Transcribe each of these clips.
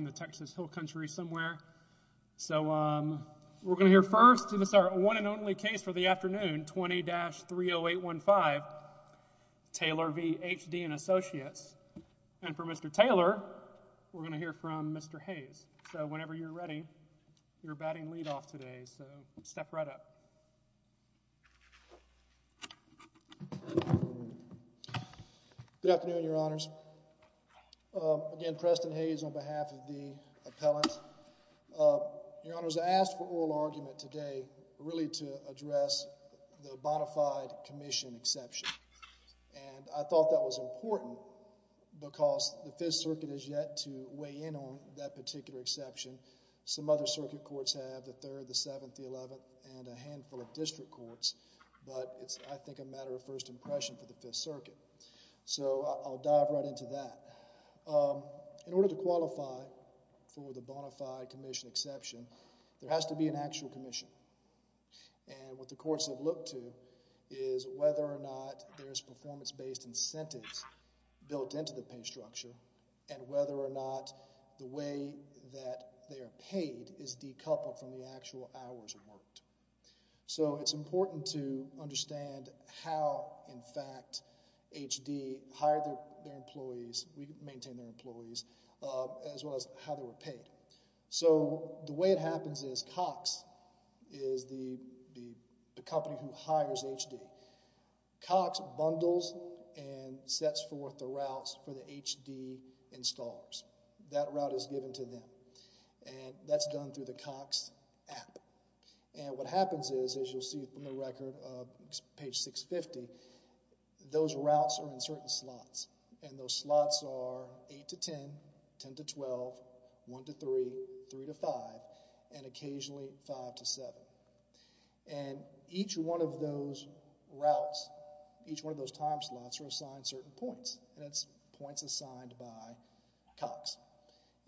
in the Texas Hill Country somewhere. So, um, we're gonna hear first to the start. One and only case for the afternoon. 20-30815 Taylor v HD and Associates. And for Mr Taylor, we're gonna hear from Mr Hayes. So whenever you're ready, you're batting lead off today. So step right up. Good afternoon, Your Honors. Again, Preston Hayes on behalf of the appellant. Your Honors, I asked for oral argument today really to address the bonafide commission exception. And I thought that was important because the Fifth Circuit is yet to weigh in on that particular exception. Some other circuit courts have, the Third, the Seventh, the Eleventh, and a handful of district courts. But it's, I think, a matter of first impression for the Fifth Circuit. So I'll dive right into that. In order to qualify for the bonafide commission exception, there has to be an actual commission. And what the courts have looked to is whether or not there's performance-based incentives built into the pay structure and whether or not the way that they are paid is decoupled from the actual hours worked. So it's important to understand how, in fact, HD hired their employees, we maintain their employees, as well as how they were paid. So the way it happens is Cox is the company who hires HD. Cox bundles and sets forth the routes for the HD installers. That route is given to them. And that's done through the Cox app. And what happens is, as you'll see from the record of page 650, those routes are in certain slots. And those slots are 8 to 10, 10 to 12, 1 to 3, 3 to 5, and occasionally 5 to 7. And each one of those routes, each one of those time slots are assigned certain points. And that's points assigned by Cox.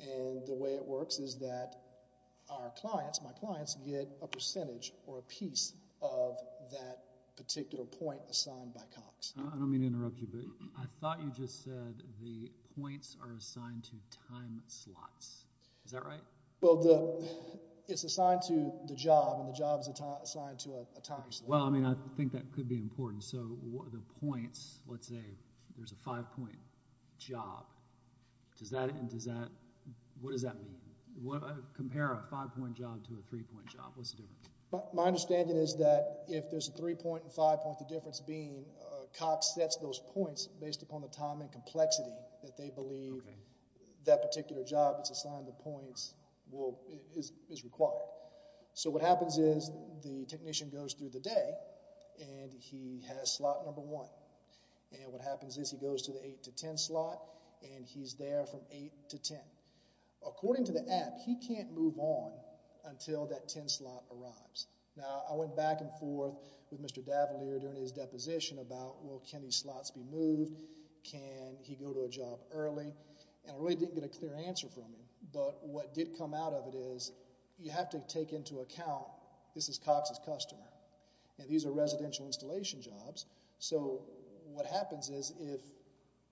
And the way it works is that our clients, my clients, get a percentage or a piece of that particular point assigned by Cox. I don't mean to interrupt you, but I thought you just said the points are assigned to time slots. Is that right? Well, it's assigned to the job, and the job is assigned to a time slot. Well, I mean, I think that could be important. So the points, let's say there's a 5-point job. Does that, and does that, what does that mean? Compare a 5-point job to a 3-point job. What's the difference? My understanding is that if there's a 3-point and 5-point, the difference being Cox sets those points based upon the time and complexity that they believe that particular job that's assigned the points is required. So what happens is the technician goes through the day, and he has slot number one. And what happens is he goes to the 8 to 10 slot, and he's there from 8 to 10. According to the app, he can't move on until that 10 slot arrives. Now, I went back and forth with can he go to a job early, and I really didn't get a clear answer from him. But what did come out of it is you have to take into account this is Cox's customer, and these are residential installation jobs. So what happens is if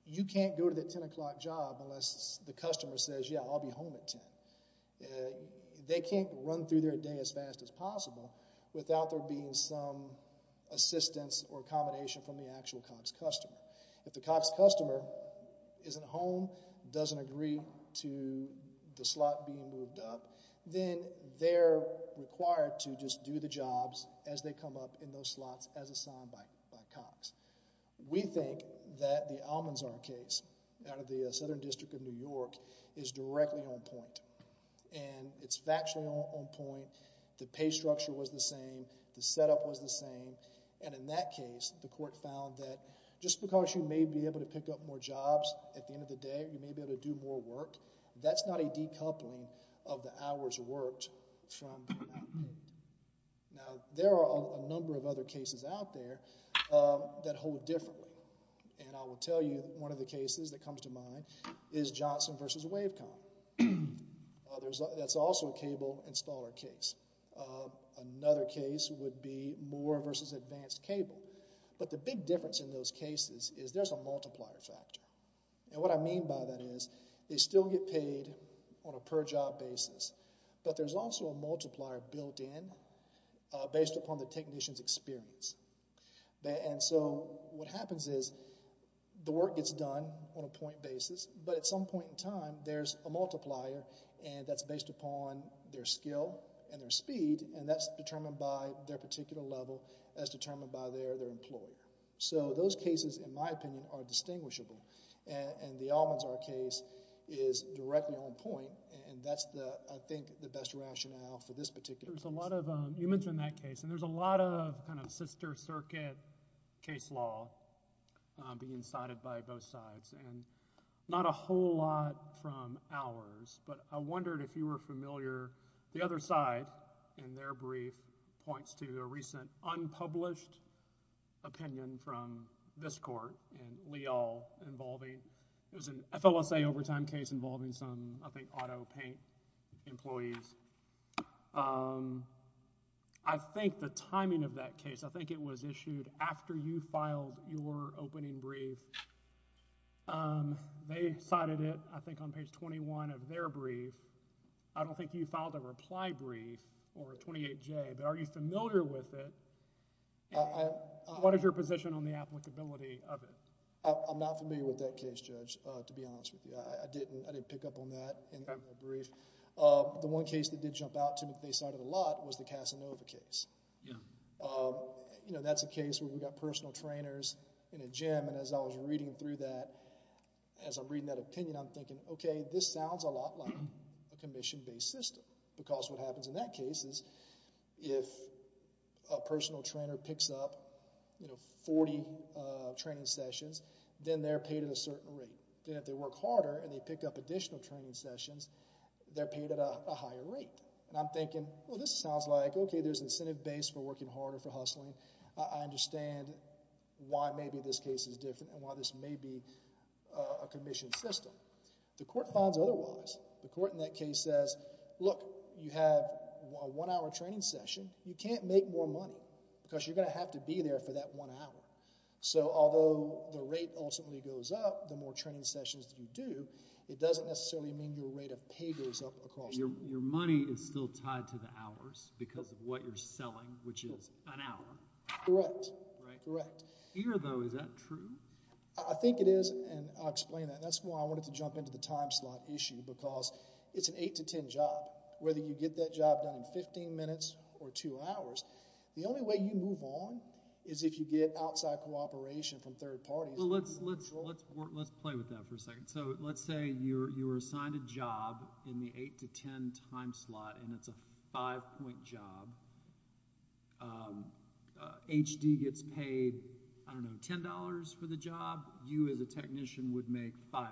you can't go to that 10 o'clock job unless the customer says, yeah, I'll be home at 10, they can't run through their day as fast as possible without there being some assistance or accommodation from the actual Cox customer. If the Cox customer isn't home, doesn't agree to the slot being moved up, then they're required to just do the jobs as they come up in those slots as assigned by Cox. We think that the Almanzar case out of the Southern District of New York is directly on point. And it's factually on point. The pay structure was the same. The setup was the same. And in that case, you may be able to pick up more jobs at the end of the day. You may be able to do more work. That's not a decoupling of the hours worked from that. Now, there are a number of other cases out there that hold differently. And I will tell you one of the cases that comes to mind is Johnson v. Wavecom. That's also a cable installer case. Another case would be Moore v. Advanced Cable. But the big difference in those cases is there's a multiplier factor. And what I mean by that is they still get paid on a per-job basis. But there's also a multiplier built in based upon the technician's experience. And so what happens is the work gets done on a point basis. But at some point in time, there's a multiplier and that's based upon their skill and their speed. And that's determined by their particular level as determined by their employer. So those cases, in my opinion, are distinguishable. And the Almanzar case is directly on point. And that's, I think, the best rationale for this particular case. There's a lot of... you mentioned that case. And there's a lot of kind of sister I wondered if you were familiar... the other side in their brief points to a recent unpublished opinion from this court and Leal involving... it was an FOSA overtime case involving some, I think, auto paint employees. I think the timing of that case, I think it was issued after you filed your opening brief. They cited it, I think, on page 21 of their brief. I don't think you filed a reply brief or a 28-J. But are you familiar with it and what is your position on the applicability of it? I'm not familiar with that case, Judge, to be honest with you. I didn't pick up on that in the brief. The one case that did jump out to me that they cited a lot was the Casanova case. You know, that's a case where we got personal trainers in a gym and as I was reading through that, as I'm reading that opinion, I'm thinking, okay, this sounds a lot like a commission-based system. Because what happens in that case is if a personal trainer picks up, you know, 40 training sessions, then they're paid at a certain rate. Then if they work harder and they pick up additional training sessions, they're paid at a higher rate. And I'm thinking, well, this sounds like, okay, there's incentive base for working harder for hustling. I understand why maybe this case is different and why this may be a commission system. The court finds otherwise. The court in that case says, look, you have a one-hour training session. You can't make more money because you're going to have to be there for that one hour. So although the rate ultimately goes up, the more training sessions that you do, it doesn't necessarily mean your rate of pay goes up across the board. Your money is still tied to the hours because of what you're selling, which is an hour. Correct. Right? Correct. Here, though, is that true? I think it is, and I'll explain that. That's why I wanted to jump into the time slot issue because it's an 8 to 10 job. Whether you get that job done in 15 minutes or two hours, the only way you move on is if you get outside cooperation from third parties. Well, let's play with that for a second. So let's say you were assigned a job in the 8 to 10 time slot, and it's a five-point job. HD gets paid, I don't know, $10 for the job. You as a technician would make $5.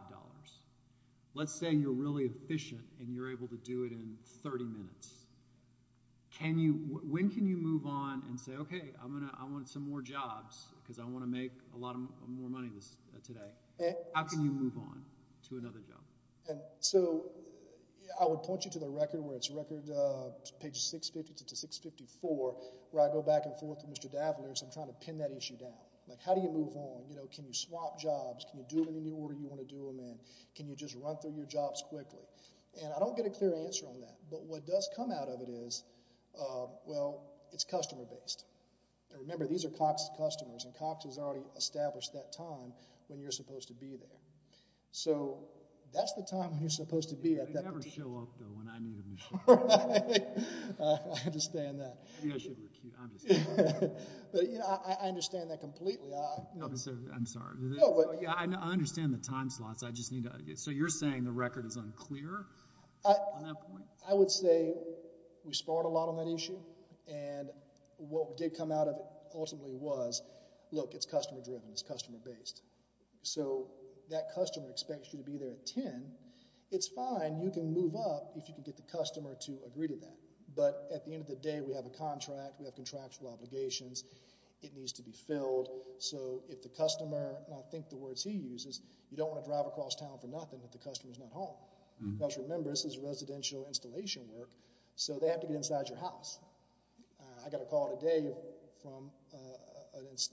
Let's say you're really efficient and you're able to do it in 30 minutes. When can you move on and say, OK, I want some more jobs because I want to make a lot more money today? How can you move on to another job? So I would point you to the record where it's page 650 to 654, where I go back and forth with Mr. Davelier as I'm trying to pin that issue down. How do you move on? Can you swap jobs? Can you do them in the order you want to do them in? Can you just run through your jobs quickly? I don't get a clear answer on that, but what does come out of it is, well, it's customer-based. Remember, these are Cox customers, and Cox has already established that time when you're supposed to be there. So that's the time when you're supposed to be at that particular job. They never show up, though, when I need them to show up. I understand that. I think I should recute. I'm just kidding. But I understand that completely. I'm sorry. I understand the time slots. So you're saying the record is unclear on that point? I would say we sparred a lot on that issue, and what did come out of it ultimately was, look, it's customer-driven. It's customer-based. So that customer expects you to be there at 10. It's fine. You can move up if you can get the customer to agree to that. But at the end of the day, we have a contract. We have contractual obligations. It needs to be filled. So if the customer, and I think the words he uses, you don't want to drive across town for nothing if the customer's not home. Because remember, this is residential installation work, so they have to get inside your house. I got a call today from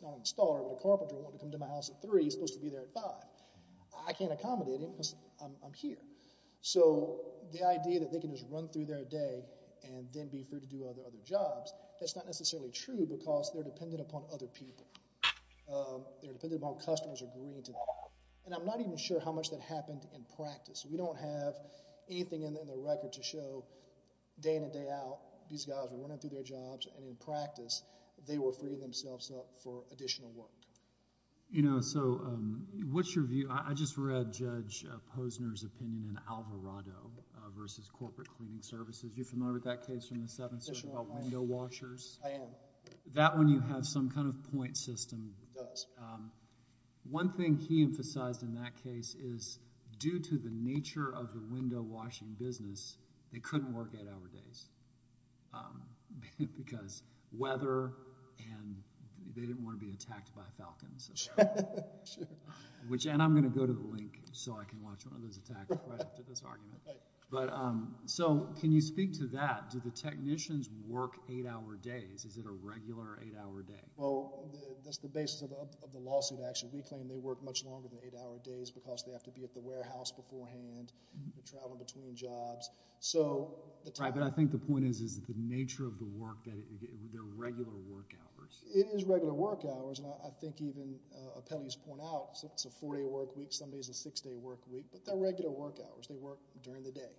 not an installer but a carpenter who wanted to come to my house at 3. He's supposed to be there at 5. I can't accommodate him because I'm here. So the idea that they can just run through their day and then be free to do other jobs, that's not necessarily true because they're dependent upon other people. They're dependent upon customers agreeing to that. And I'm not even sure how much that happened in practice. We don't have anything in the record to show day in and day out these guys were running through their jobs and in practice they were freeing themselves up for additional work. You know, so what's your view? I just read Judge Posner's opinion in Alvarado versus Corporate Cleaning Services. You're familiar with that case from the 7th Circuit about window washers? I am. That one you have some kind of point system. It does. One thing he emphasized in that case is due to the nature of the window washing business they couldn't work 8 hour days because weather and they didn't want to be attacked by Falcons. And I'm going to go to the link so I can watch one of those attacks right after this argument. So can you speak to that? Do the technicians work 8 hour days? Is it a regular 8 hour day? Well, that's the basis of the lawsuit actually. We claim they work much longer than 8 hour days because they have to be at the warehouse beforehand, traveling between jobs. Right, but I think the point is the nature of the work that they're regular work hours. It is regular work hours and I think even appellees point out it's a 4 day work week. Some days it's a 6 day work week, but they're regular work hours. They work during the day.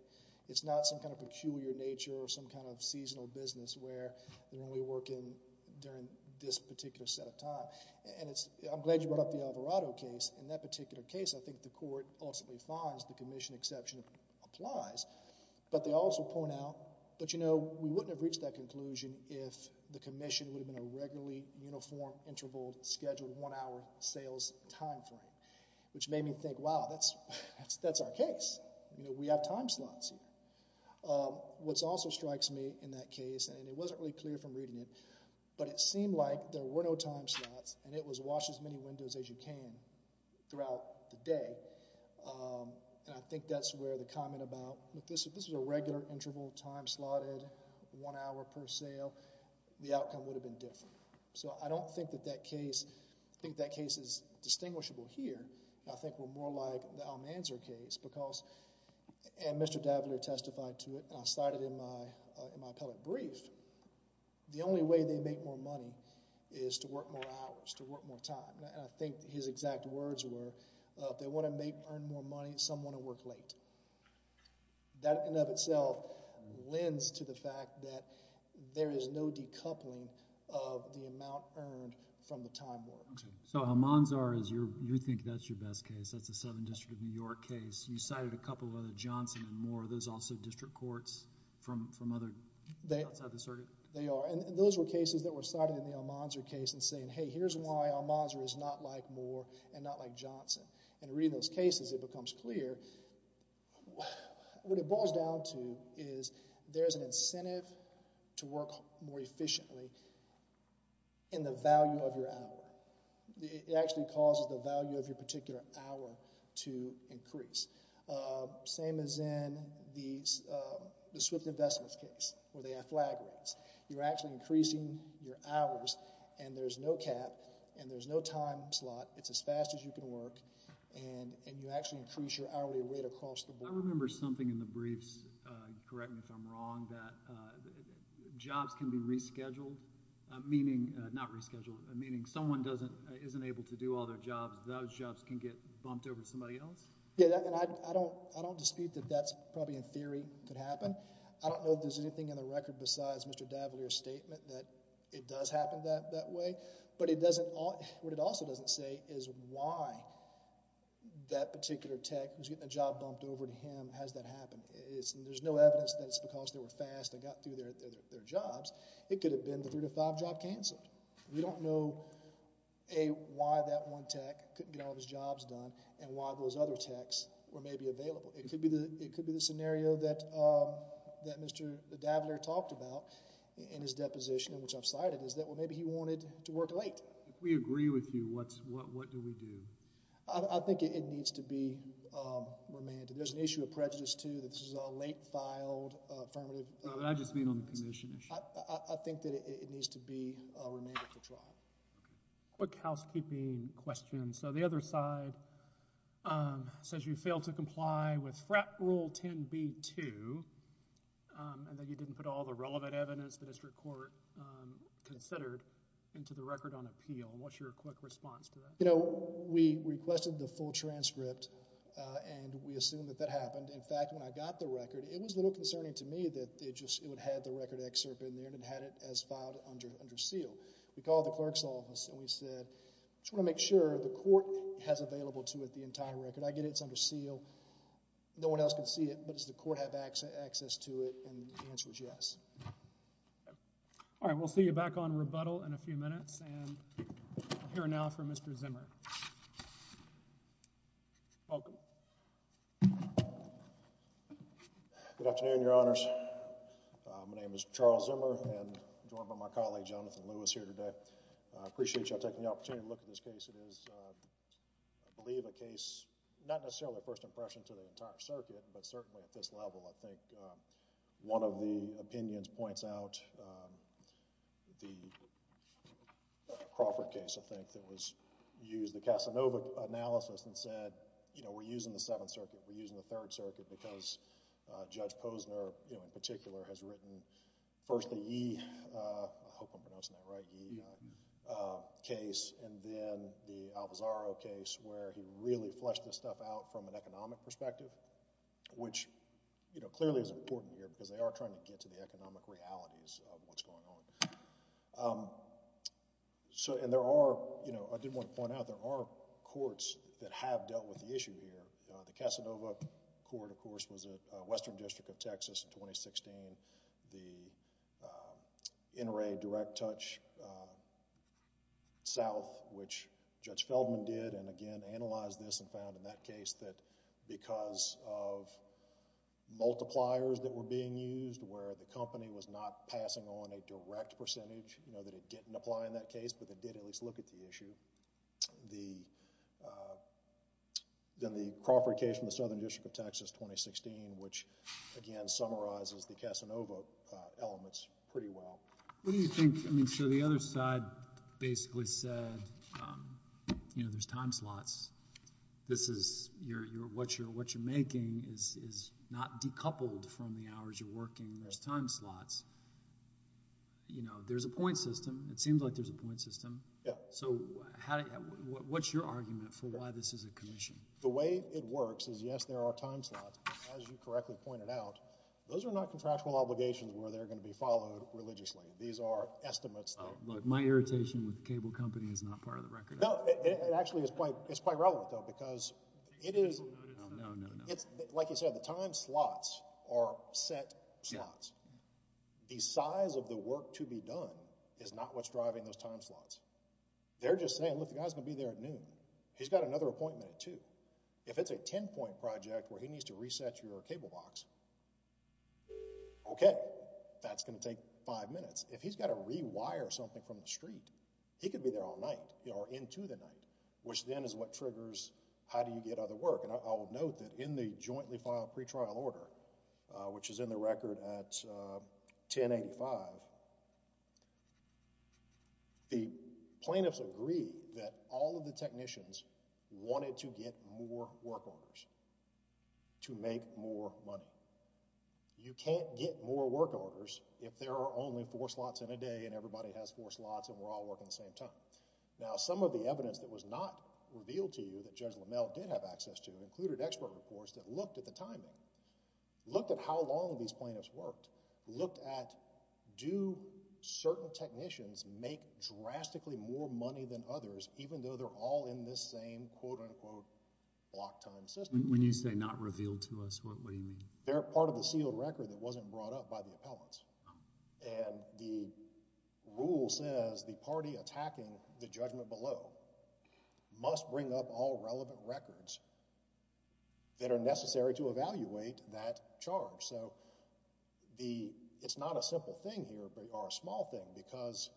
It's not some kind of peculiar nature or some kind of seasonal business where they're only working during this particular set of time. And I'm glad you brought up the Alvarado case. In that particular case, I think the court ultimately finds the commission exception applies. But they also point out, but you know, we wouldn't have reached that conclusion if the commission would have been a regularly uniform interval scheduled 1 hour sales time frame. Which made me think, wow, that's our case. We have time slots. What also strikes me in that case, and it wasn't really clear from reading it, but it seemed like there were no time slots and it was wash as many windows as you can throughout the day. And I think that's where the comment about, if this was a regular interval time slotted 1 hour per sale, the outcome would have been different. So I don't think that that case, I think that case is distinguishable here. I think we're more like the Almanzar case because, and Mr. Daviler testified to it, and I cited in my public brief, the only way they make more money is to work more hours, to work more time. And I think his exact words were, if they want to make, earn more money, some want to work late. That in and of itself lends to the fact that there is no decoupling of the amount earned from the time work. Okay, so Almanzar, you think that's your best case, that's the 7th District of New York case. You cited a couple other, Johnson and Moore, those also district courts from other, outside the circuit? They are, and those were cases that were cited in the Almanzar case and saying, hey, here's why Almanzar is not like Moore and not like Johnson. And reading those cases, it becomes clear, what it boils down to is, there's an incentive to work more efficiently in the value of your hour. It actually causes the value of your particular hour to increase. Same as in the Swift Investments case, where they have flag rates. You're actually increasing your hours, and there's no cap, and there's no time slot. It's as fast as you can work, and you actually increase your hourly rate across the board. I remember something in the briefs, correct me if I'm wrong, that jobs can be rescheduled, meaning, not rescheduled, meaning someone isn't able to do all their jobs, those jobs can get bumped over to somebody else? Yeah, and I don't dispute that that's probably in theory could happen. I don't know if there's anything in the record besides Mr. D'Avaliere's statement that it does happen that way. But what it also doesn't say is why that particular tech was getting a job bumped over to him. How does that happen? There's no evidence that it's because they were fast and got through their jobs. It could have been the three to five job canceled. We don't know why that one tech couldn't get all of his jobs done, and why those other techs were maybe available. It could be the scenario that Mr. D'Avaliere talked about in his deposition, which I've cited, is that maybe he wanted to work late. If we agree with you, what do we do? I think it needs to be remanded. There's an issue of prejudice, too, that this is a late-filed affirmative. I just mean on the commission issue. I think that it needs to be remanded for trial. A quick housekeeping question. So the other side says you failed to comply with FRAP Rule 10b-2, and that you didn't put all the relevant evidence the district court considered into the record on appeal. What's your quick response to that? We requested the full transcript, and we assumed that that happened. In fact, when I got the record, it was a little concerning to me that it would have the record excerpt in there and had it as filed under seal. We called the clerk's office, and we said, I just want to make sure the court has available to it the entire record. I get it's under seal. No one else can see it, but does the court have access to it? And the answer is yes. All right. We'll see you back on rebuttal in a few minutes. And we'll hear now from Mr. Zimmer. Welcome. Good afternoon, Your Honors. My name is Charles Zimmer, and I'm joined by my colleague, Jonathan Lewis, here today. I appreciate you all taking the opportunity to look at this case. It is, I believe, a case, not necessarily a first impression to the entire circuit, but certainly at this level. I think one of the opinions points out the Crawford case, I think, that was used, the Casanova analysis, and said, you know, we're using the Seventh Circuit. We're using the Third Circuit because Judge Posner, you know, in particular, has written first the Yee... I hope I'm pronouncing that right, Yee... the Alvazaro case where he really fleshed this stuff out from an economic perspective, which, you know, clearly is important here because they are trying to get to the economic realities of what's going on. So, and there are, you know, I did want to point out there are courts that have dealt with the issue here. The Casanova Court, of course, was at Western District of Texas in 2016. The NRA Direct Touch South, which Judge Feldman did, and again, analyzed this and found in that case that because of multipliers that were being used, where the company was not passing on a direct percentage, you know, that it didn't apply in that case, but they did at least look at the issue. Then the Crawford case from the Southern District of Texas, 2016, which, again, summarizes the Casanova elements pretty well. What do you think, I mean, so the other side basically said, you know, there's time slots. This is, what you're making is not decoupled from the hours you're working. There's time slots. You know, there's a point system. It seems like there's a point system. So, what's your argument for why this is a commission? The way it works is, yes, there are time slots, but as you correctly pointed out, those are not contractual obligations where they're going to be followed religiously. These are estimates. My irritation with the cable company is not part of the record. No, it actually is quite relevant, though, because it is, like you said, the time slots are set slots. The size of the work to be done is not what's driving those time slots. They're just saying, look, the guy's going to be there at noon. He's got another appointment at 2. If it's a 10-point project where he needs to reset your cable box, okay, that's going to take five minutes. If he's got to rewire something from the street, he could be there all night or into the night, which then is what triggers how do you get other work. And I will note that in the jointly filed pretrial order, which is in the record at 1085, the plaintiffs agree that all of the technicians wanted to get more work orders to make more money. You can't get more work orders if there are only four slots in a day and everybody has four slots and we're all working at the same time. Now, some of the evidence that was not revealed to you that Judge LaMelle did have access to included expert reports that looked at the timing, looked at how long these plaintiffs worked, looked at do certain technicians make drastically more money than others even though they're all in this same quote-unquote block time system. When you say not revealed to us, what do you mean? They're part of the sealed record that wasn't brought up by the appellants. And the rule says the party attacking the judgment below must bring up all relevant records that are necessary to evaluate that charge. So it's not a simple thing here or a small thing because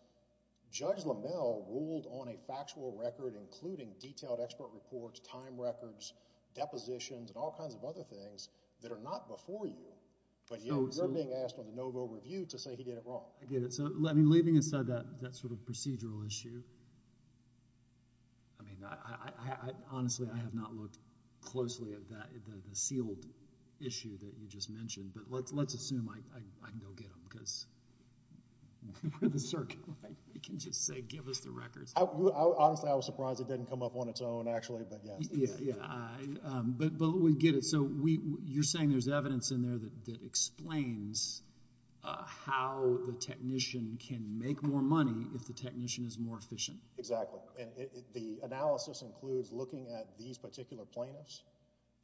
Judge LaMelle ruled on a factual record including detailed expert reports, time records, depositions and all kinds of other things that are not before you but you're being asked on the no-go review to say he did it wrong. I get it. So, I mean, leaving aside that sort of procedural issue, I mean, honestly, I have not looked closely at that, the sealed issue that you just mentioned. But let's assume I can go get them because we're the circuit. We can just say give us the records. Honestly, I was surprised it didn't come up on its own actually but yeah. Yeah, yeah. But we get it. So you're saying there's evidence in there that explains how the technician can make more money if the technician is more efficient. Exactly. And the analysis includes looking at these particular plaintiffs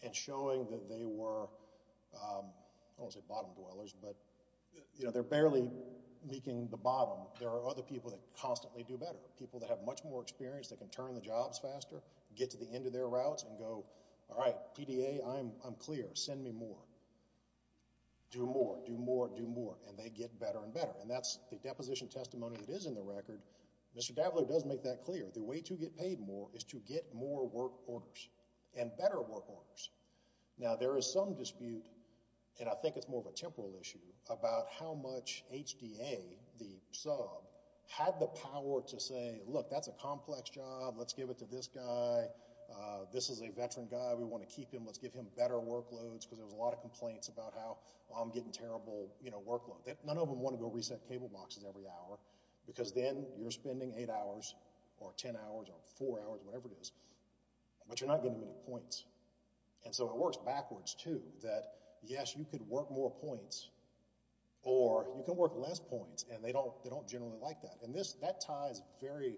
and showing that they were, I don't want to say bottom dwellers, but they're barely making the bottom. There are other people that constantly do better, people that have much more experience that can turn the jobs faster, get to the end of their routes and go, all right, PDA, I'm clear. Send me more. Do more. Do more. Do more. And they get better and better. And that's the deposition testimony that is in the record. Mr. Daviler does make that clear. The way to get paid more is to get more work orders and better work orders. Now there is some dispute, and I think it's more of a temporal issue, about how much HDA, the sub, had the power to say, look, that's a complex job. Let's give it to this guy. This is a veteran guy. We want to keep him. Let's give him better workloads because there was a lot of complaints about how I'm getting terrible workload. None of them want to go reset cable boxes every hour because then you're spending eight hours or ten hours or four hours, whatever it is. But you're not getting them any points. And so it works backwards, too, that yes, you could work more points or you can work less points, and they don't generally like that. And that ties very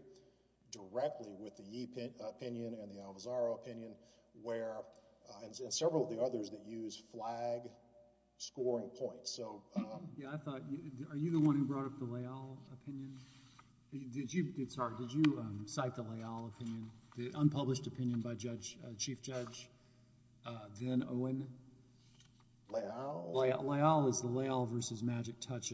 directly with the Yee opinion and the Alvazaro opinion, and several of the others that use flag scoring points. Yeah, I thought, are you the one who brought up the Layal opinion? Did you, sorry, did you cite the Layal opinion? The unpublished opinion by Chief Judge Van Owen? Layal? Layal is the Layal versus Magic Touch.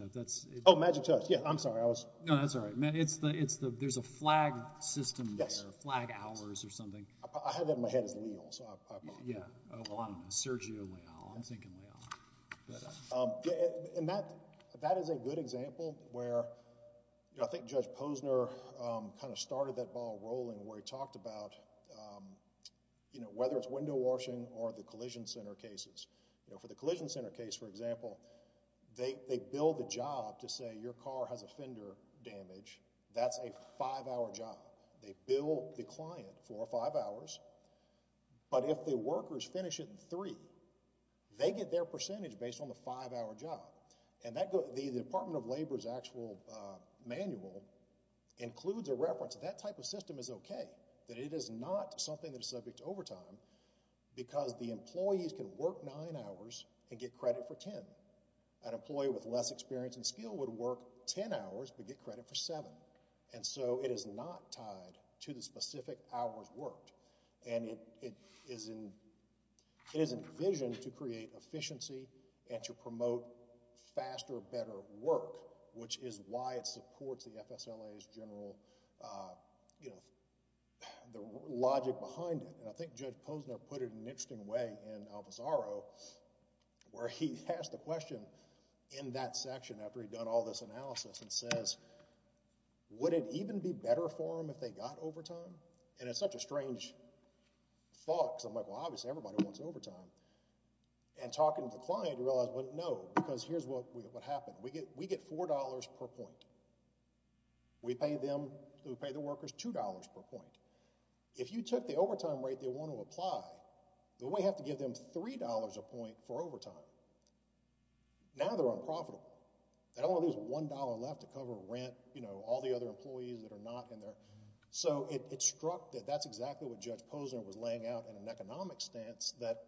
Oh, Magic Touch. Yeah, I'm sorry, I was... No, that's all right. It's the, there's a flag system there, flag hours or something. I had that in my head as Layal, so I... Yeah, well, I'm Sergio Layal. I'm thinking Layal. And that is a good example where, I think Judge Posner kind of started that ball rolling where he talked about, you know, whether it's window washing or the collision center cases. You know, for the collision center case, for example, they bill the job to say your car has a fender damage. That's a five-hour job. They bill the client for five hours, but if the workers finish it in three, they get their percentage based on the five-hour job. And that goes, the Department of Labor's actual manual includes a reference that that type of system is okay, that it is not something that is subject to overtime because the employees can work nine hours and get credit for ten. An employee with less experience and skill would work ten hours but get credit for seven. And so it is not tied to the specific hours worked. And it is envisioned to create efficiency and to promote faster, better work, which is why it supports the FSLA's general, you know, the logic behind it. And I think Judge Posner put it in an interesting way in Alvisaro where he asked a question in that section after he'd done all this analysis and says, would it even be better for them if they got overtime? And it's such a strange thought because I'm like, well, obviously everybody wants overtime. And talking to the client, you realize, well, no, because here's what happened. We get $4 per point. We pay them, we pay the workers $2 per point. If you took the overtime rate they want to apply, then we have to give them $3 a point for overtime. Now they're unprofitable. They don't want to lose $1 left to cover rent, you know, all the other employees that are not in there. So it struck that that's exactly what Judge Posner was laying out in an economic stance that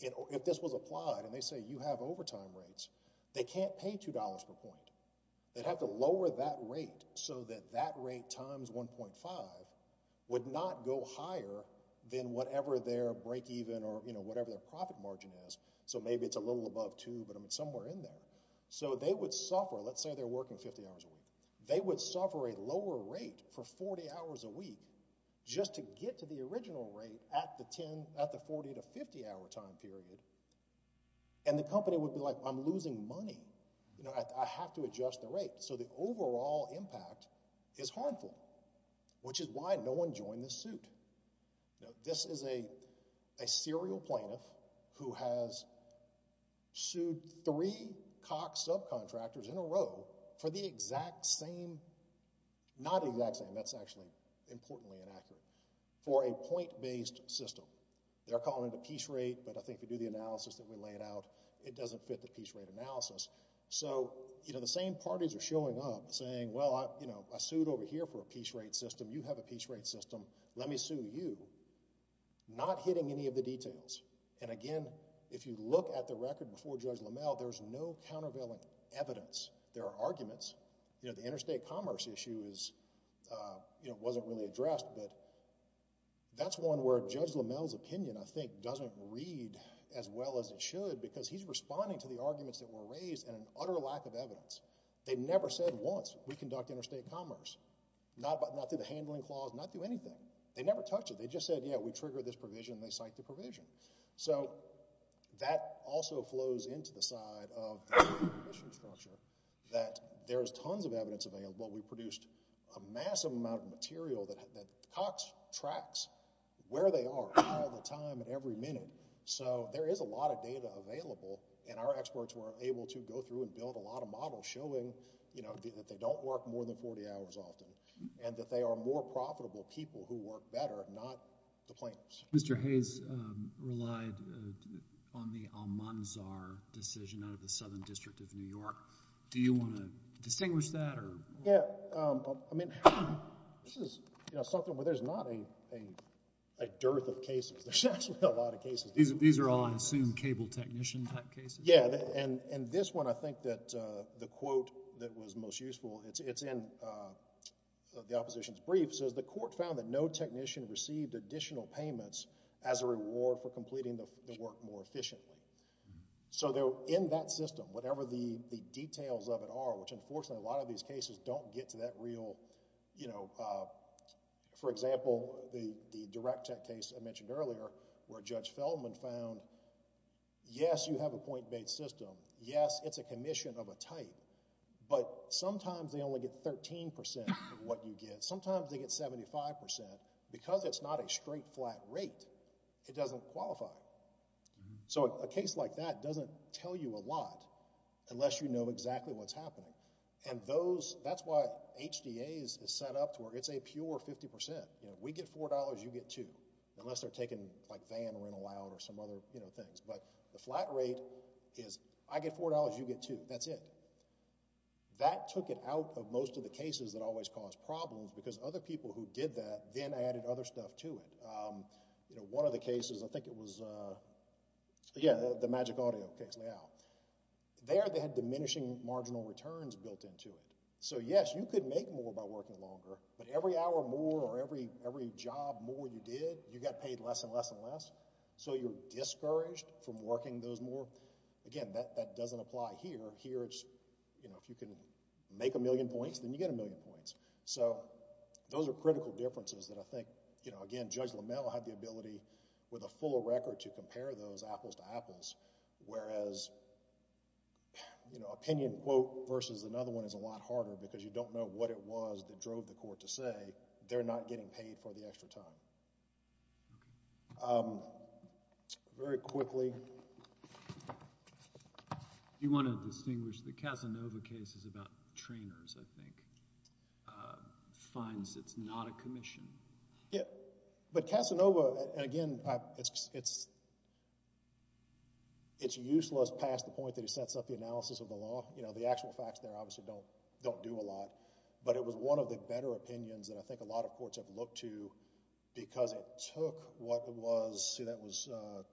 if this was applied, and they say you have overtime rates, they can't pay $2 per point. They'd have to lower that rate so that that rate times 1.5 would not go higher than whatever their break-even or whatever their profit margin is. So maybe it's a little above 2, but it's somewhere in there. So they would suffer, let's say they're working 50 hours a week. They would suffer a lower rate for 40 hours a week just to get to the original rate at the 40 to 50 hour time period. And the company would be like, you know, I'm losing money. I have to adjust the rate. So the overall impact is harmful, which is why no one joined the suit. This is a serial plaintiff who has sued three Koch subcontractors in a row for the exact same, not the exact same, that's actually importantly inaccurate, for a point-based system. They're calling it a piece rate, but I think if you do the analysis that we laid out, it doesn't fit the piece rate analysis. So the same parties are showing up saying, well, I sued over here for a piece rate system. You have a piece rate system. Let me sue you. Not hitting any of the details. And again, if you look at the record before Judge LaMalle, there's no countervailing evidence. There are arguments. The interstate commerce issue wasn't really addressed, but that's one where Judge LaMalle's opinion, I think, doesn't read as well as it should because he's responding to the arguments that were raised and an utter lack of evidence. They never said once, we conduct interstate commerce. Not through the handling clause, not through anything. They never touched it. They just said, yeah, we trigger this provision and they cite the provision. So that also flows into the side of the provision structure that there is tons of evidence available. We produced a massive amount of material that Cox tracks where they are, all the time, every minute. So there is a lot of data available and our experts were able to go through and build a lot of models showing that they don't work more than 40 hours often and that they are more profitable people who work better, not the plaintiffs. Mr. Hayes relied on the Almanzar decision out of the Southern District of New York. Do you want to distinguish that? Yeah, I mean this is something where there's not a dearth of cases. There's actually a lot of cases. These are all, I assume, cable technician type cases? Yeah, and this one I think that the quote that was most useful, it's in the opposition's brief says, the court found that no technician received additional payments as a reward for completing the work more efficiently. So in that system, whatever the details of it are, which unfortunately a lot of these cases don't get to that real you know, for example, the direct tech case I mentioned earlier where Judge Feldman found, yes, you have a point-based system. Yes, it's a commission of a type but sometimes they only get 13% of what you get. Sometimes they get 75% because it's not a straight flat rate. It doesn't qualify. So a case like that doesn't tell you a lot unless you know exactly what's happening and those, that's why HDAs is set up to where it's a pure 50%. You know, we get $4, you get $2 unless they're taking like Van or In-A-Loud or some other, you know, things but the flat rate is I get $4, you get $2. That's it. That took it out of most of the cases that always cause problems because other people who did that then added other stuff to it. You know, one of the cases, I think it was, yeah, the Magic Audio case. There they had diminishing marginal returns built into it. So yes, you could make more by working longer but every hour more or every job more you did, you got paid less and less and less. So you're discouraged from working those more. Again, that doesn't apply here. Here it's, you know, if you can make a million points, then you get a million points. So those are critical differences that I think, you know, again, Judge LaMelle had the ability with a full record to compare those apples to apples whereas, you know, opinion quote versus another one is a lot harder because you don't know what it was that drove the court to say they're not getting paid for the extra time. Um, very quickly... You want to distinguish the Casanova case is about trainers, I think. Uh, finds it's not a commission. But Casanova, and again, it's it's useless past the point that he sets up the analysis of the law. You know, the actual facts there obviously don't do a lot. But it was one of the better opinions that I think a lot of courts have looked to because it took what was, say that was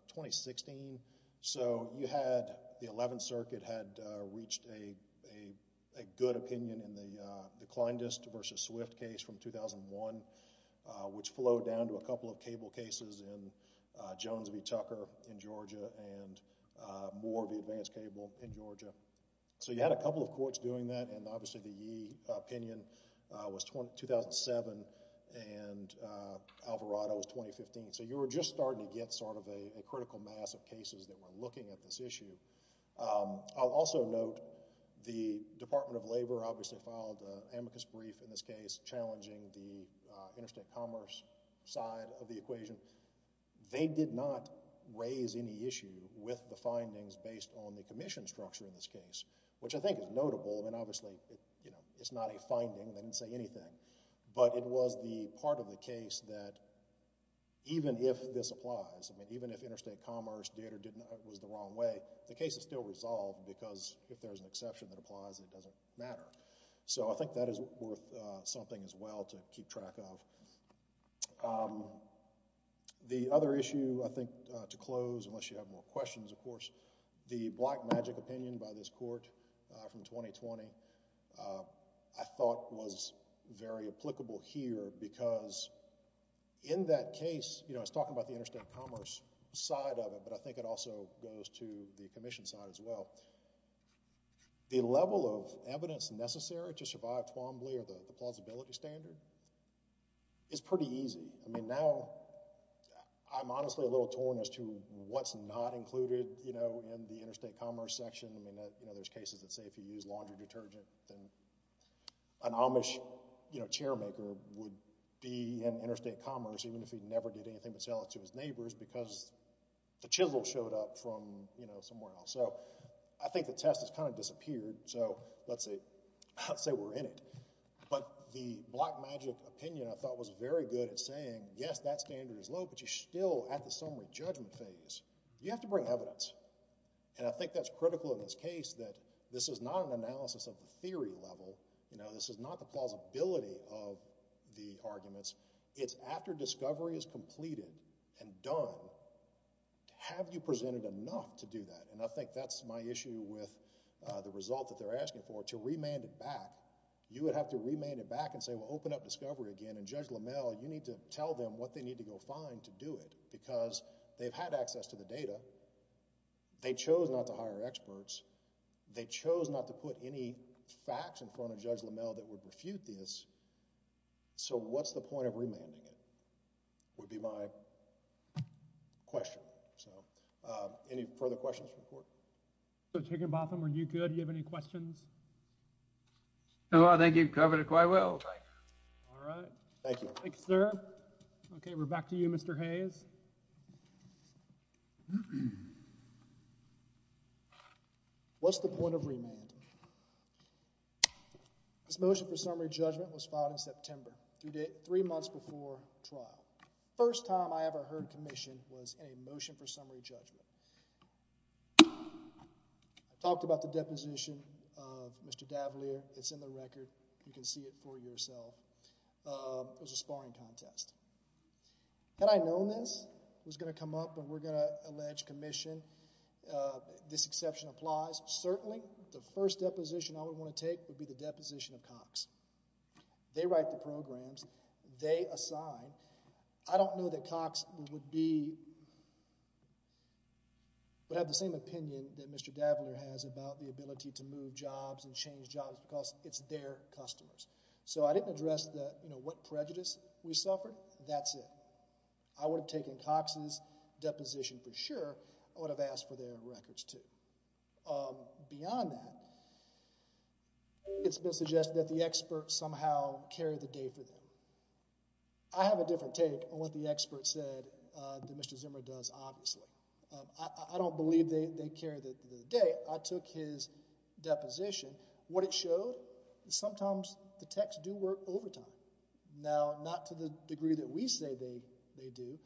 2016. So you had the 11th Circuit had reached a a good opinion in the Clindest versus Swift case from 2001 which flowed down to a couple of cable cases in Jones v. Tucker in Georgia and more of the advanced cable in Georgia. So you had a couple of courts doing that and obviously the Yee opinion was 2007 and Alvarado was 2015. So you were just starting to get sort of a critical mass of cases that were looking at this issue. I'll also note the Department of Labor obviously filed an amicus brief in this case challenging the Interstate Commerce side of the equation. They did not raise any issue with the findings based on the commission structure in this case, which I think is notable and obviously it's not a finding. They didn't say anything. But it was the part of the case that even if this applies, even if Interstate Commerce did or was the wrong way, the case is still resolved because if there's an exception that applies, it doesn't matter. So I think that is worth something as well to keep track of. The other issue I think to close, unless you have more questions of course, the Black Magic opinion by this court from 2020 I thought was very applicable here because in that case, you know I was talking about the I think it also goes to the commission side as well. The level of evidence necessary to survive Twombly or the plausibility standard is pretty easy. I mean now I'm honestly a little torn as to what's not included in the Interstate Commerce section. There's cases that say if you use laundry detergent then would be in Interstate Commerce even if he never did anything but sell it to his neighbors because the chisel showed up from somewhere else. I think the test has kind of disappeared so let's say we're in it. But the Black Magic opinion I thought was very good at saying yes that standard is low but you're still at the summary judgment phase. You have to bring evidence and I think that's critical in this case that this is not an analysis of the theory level. This is not the plausibility of the arguments. It's after discovery is completed and done have you presented enough to do that? And I think that's my issue with the result that they're asking for to remand it back. You would have to remand it back and say well open up discovery again and Judge Lamel you need to tell them what they need to go find to do it because they've had access to the data. They chose not to hire experts. They chose not to put any facts in front of Judge Lamel that would refute this. So what's the point of remanding it? Would be my question. So any further questions from the court? Judge Higginbotham are you good? Do you have any questions? No I think you've covered it quite well. Alright. Thank you. Thank you sir. Okay we're back to you Mr. Hayes. What's the point of remanding? This motion for summary judgment was filed in September. Three months before trial. First time I ever heard commission was a motion for summary judgment. I talked about the deposition of Mr. D'Avaliere. It's in the record. You can see it for yourself. It was a sparring contest. Had I known this it was going to come up and we're going to allege commission this exception applies. Certainly the first deposition I would want to take would be the deposition of Cox. They write the programs. They assign. I don't know that Cox would be would have the same opinion that Mr. D'Avaliere has about the ability to move jobs and change jobs because it's their customers. So I didn't address what prejudice we suffered. That's it. I would have taken Cox's deposition for sure. I would have asked for their records too. Beyond that it's been suggested that the expert somehow carried the day for them. I have a different take on what the expert said that Mr. Zimmer does obviously. I don't believe they carried the day. I took his deposition. What it showed is sometimes the techs do work overtime. Now not to the degree that we say they do,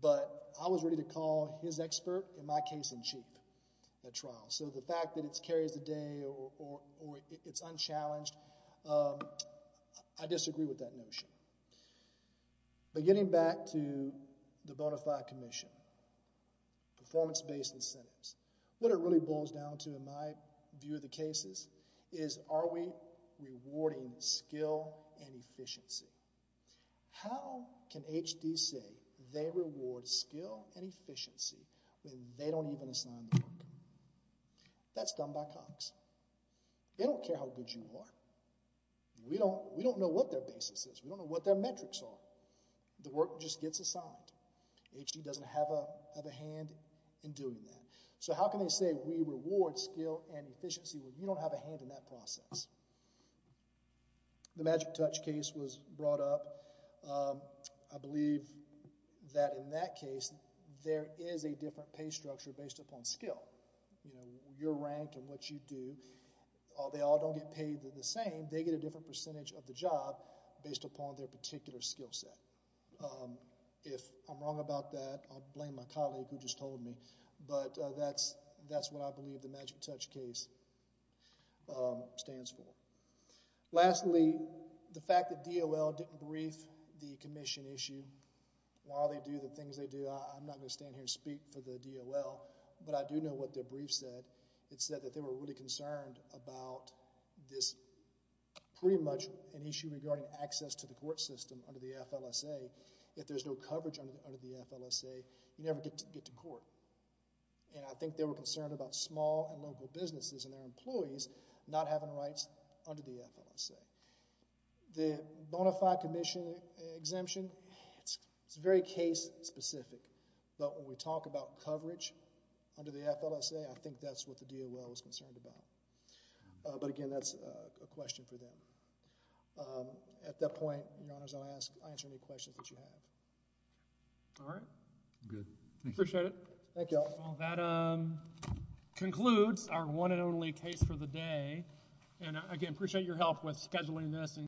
but I was ready to call his expert in my case in cheap at trial. So the fact that it carries the day or it's unchallenged I disagree with that notion. But getting back to the bonafide commission performance based incentives what it really boils down to in my view of the cases is are we rewarding skill and efficiency? How can H.D. say they reward skill and efficiency when they don't even assign the work? That's done by Cox. They don't care how good you are. We don't know what their basis is. We don't know what their metrics are. The work just gets assigned. H.D. doesn't have a hand in doing that. So how can they say we reward skill and efficiency when you don't have a hand in that process? The magic touch case was brought up. I believe that in that case there is a different pay structure based upon skill. You're ranked on what you do. They all don't get paid the same. They get a different percentage of the job based upon their particular skill set. If I'm wrong about that I'll blame my colleague who just told me. That's what I believe the magic touch case stands for. Lastly, the fact that DOL didn't brief the commission issue while they do the things they do I'm not going to stand here and speak for the DOL but I do know what their brief said. It said that they were really concerned about this pretty much an issue regarding access to the court system under the FLSA. If there's no coverage under the FLSA you never get to court. I think they were concerned about small and local businesses and their employees not having rights under the FLSA. The bona fide commission exemption it's very case specific but when we talk about coverage under the FLSA I think that's what the DOL was concerned about. But again that's a question for them. At that point, your honors I'll answer any questions that you have. Alright. Appreciate it. That concludes our one and only case for the day and again appreciate your help with scheduling this.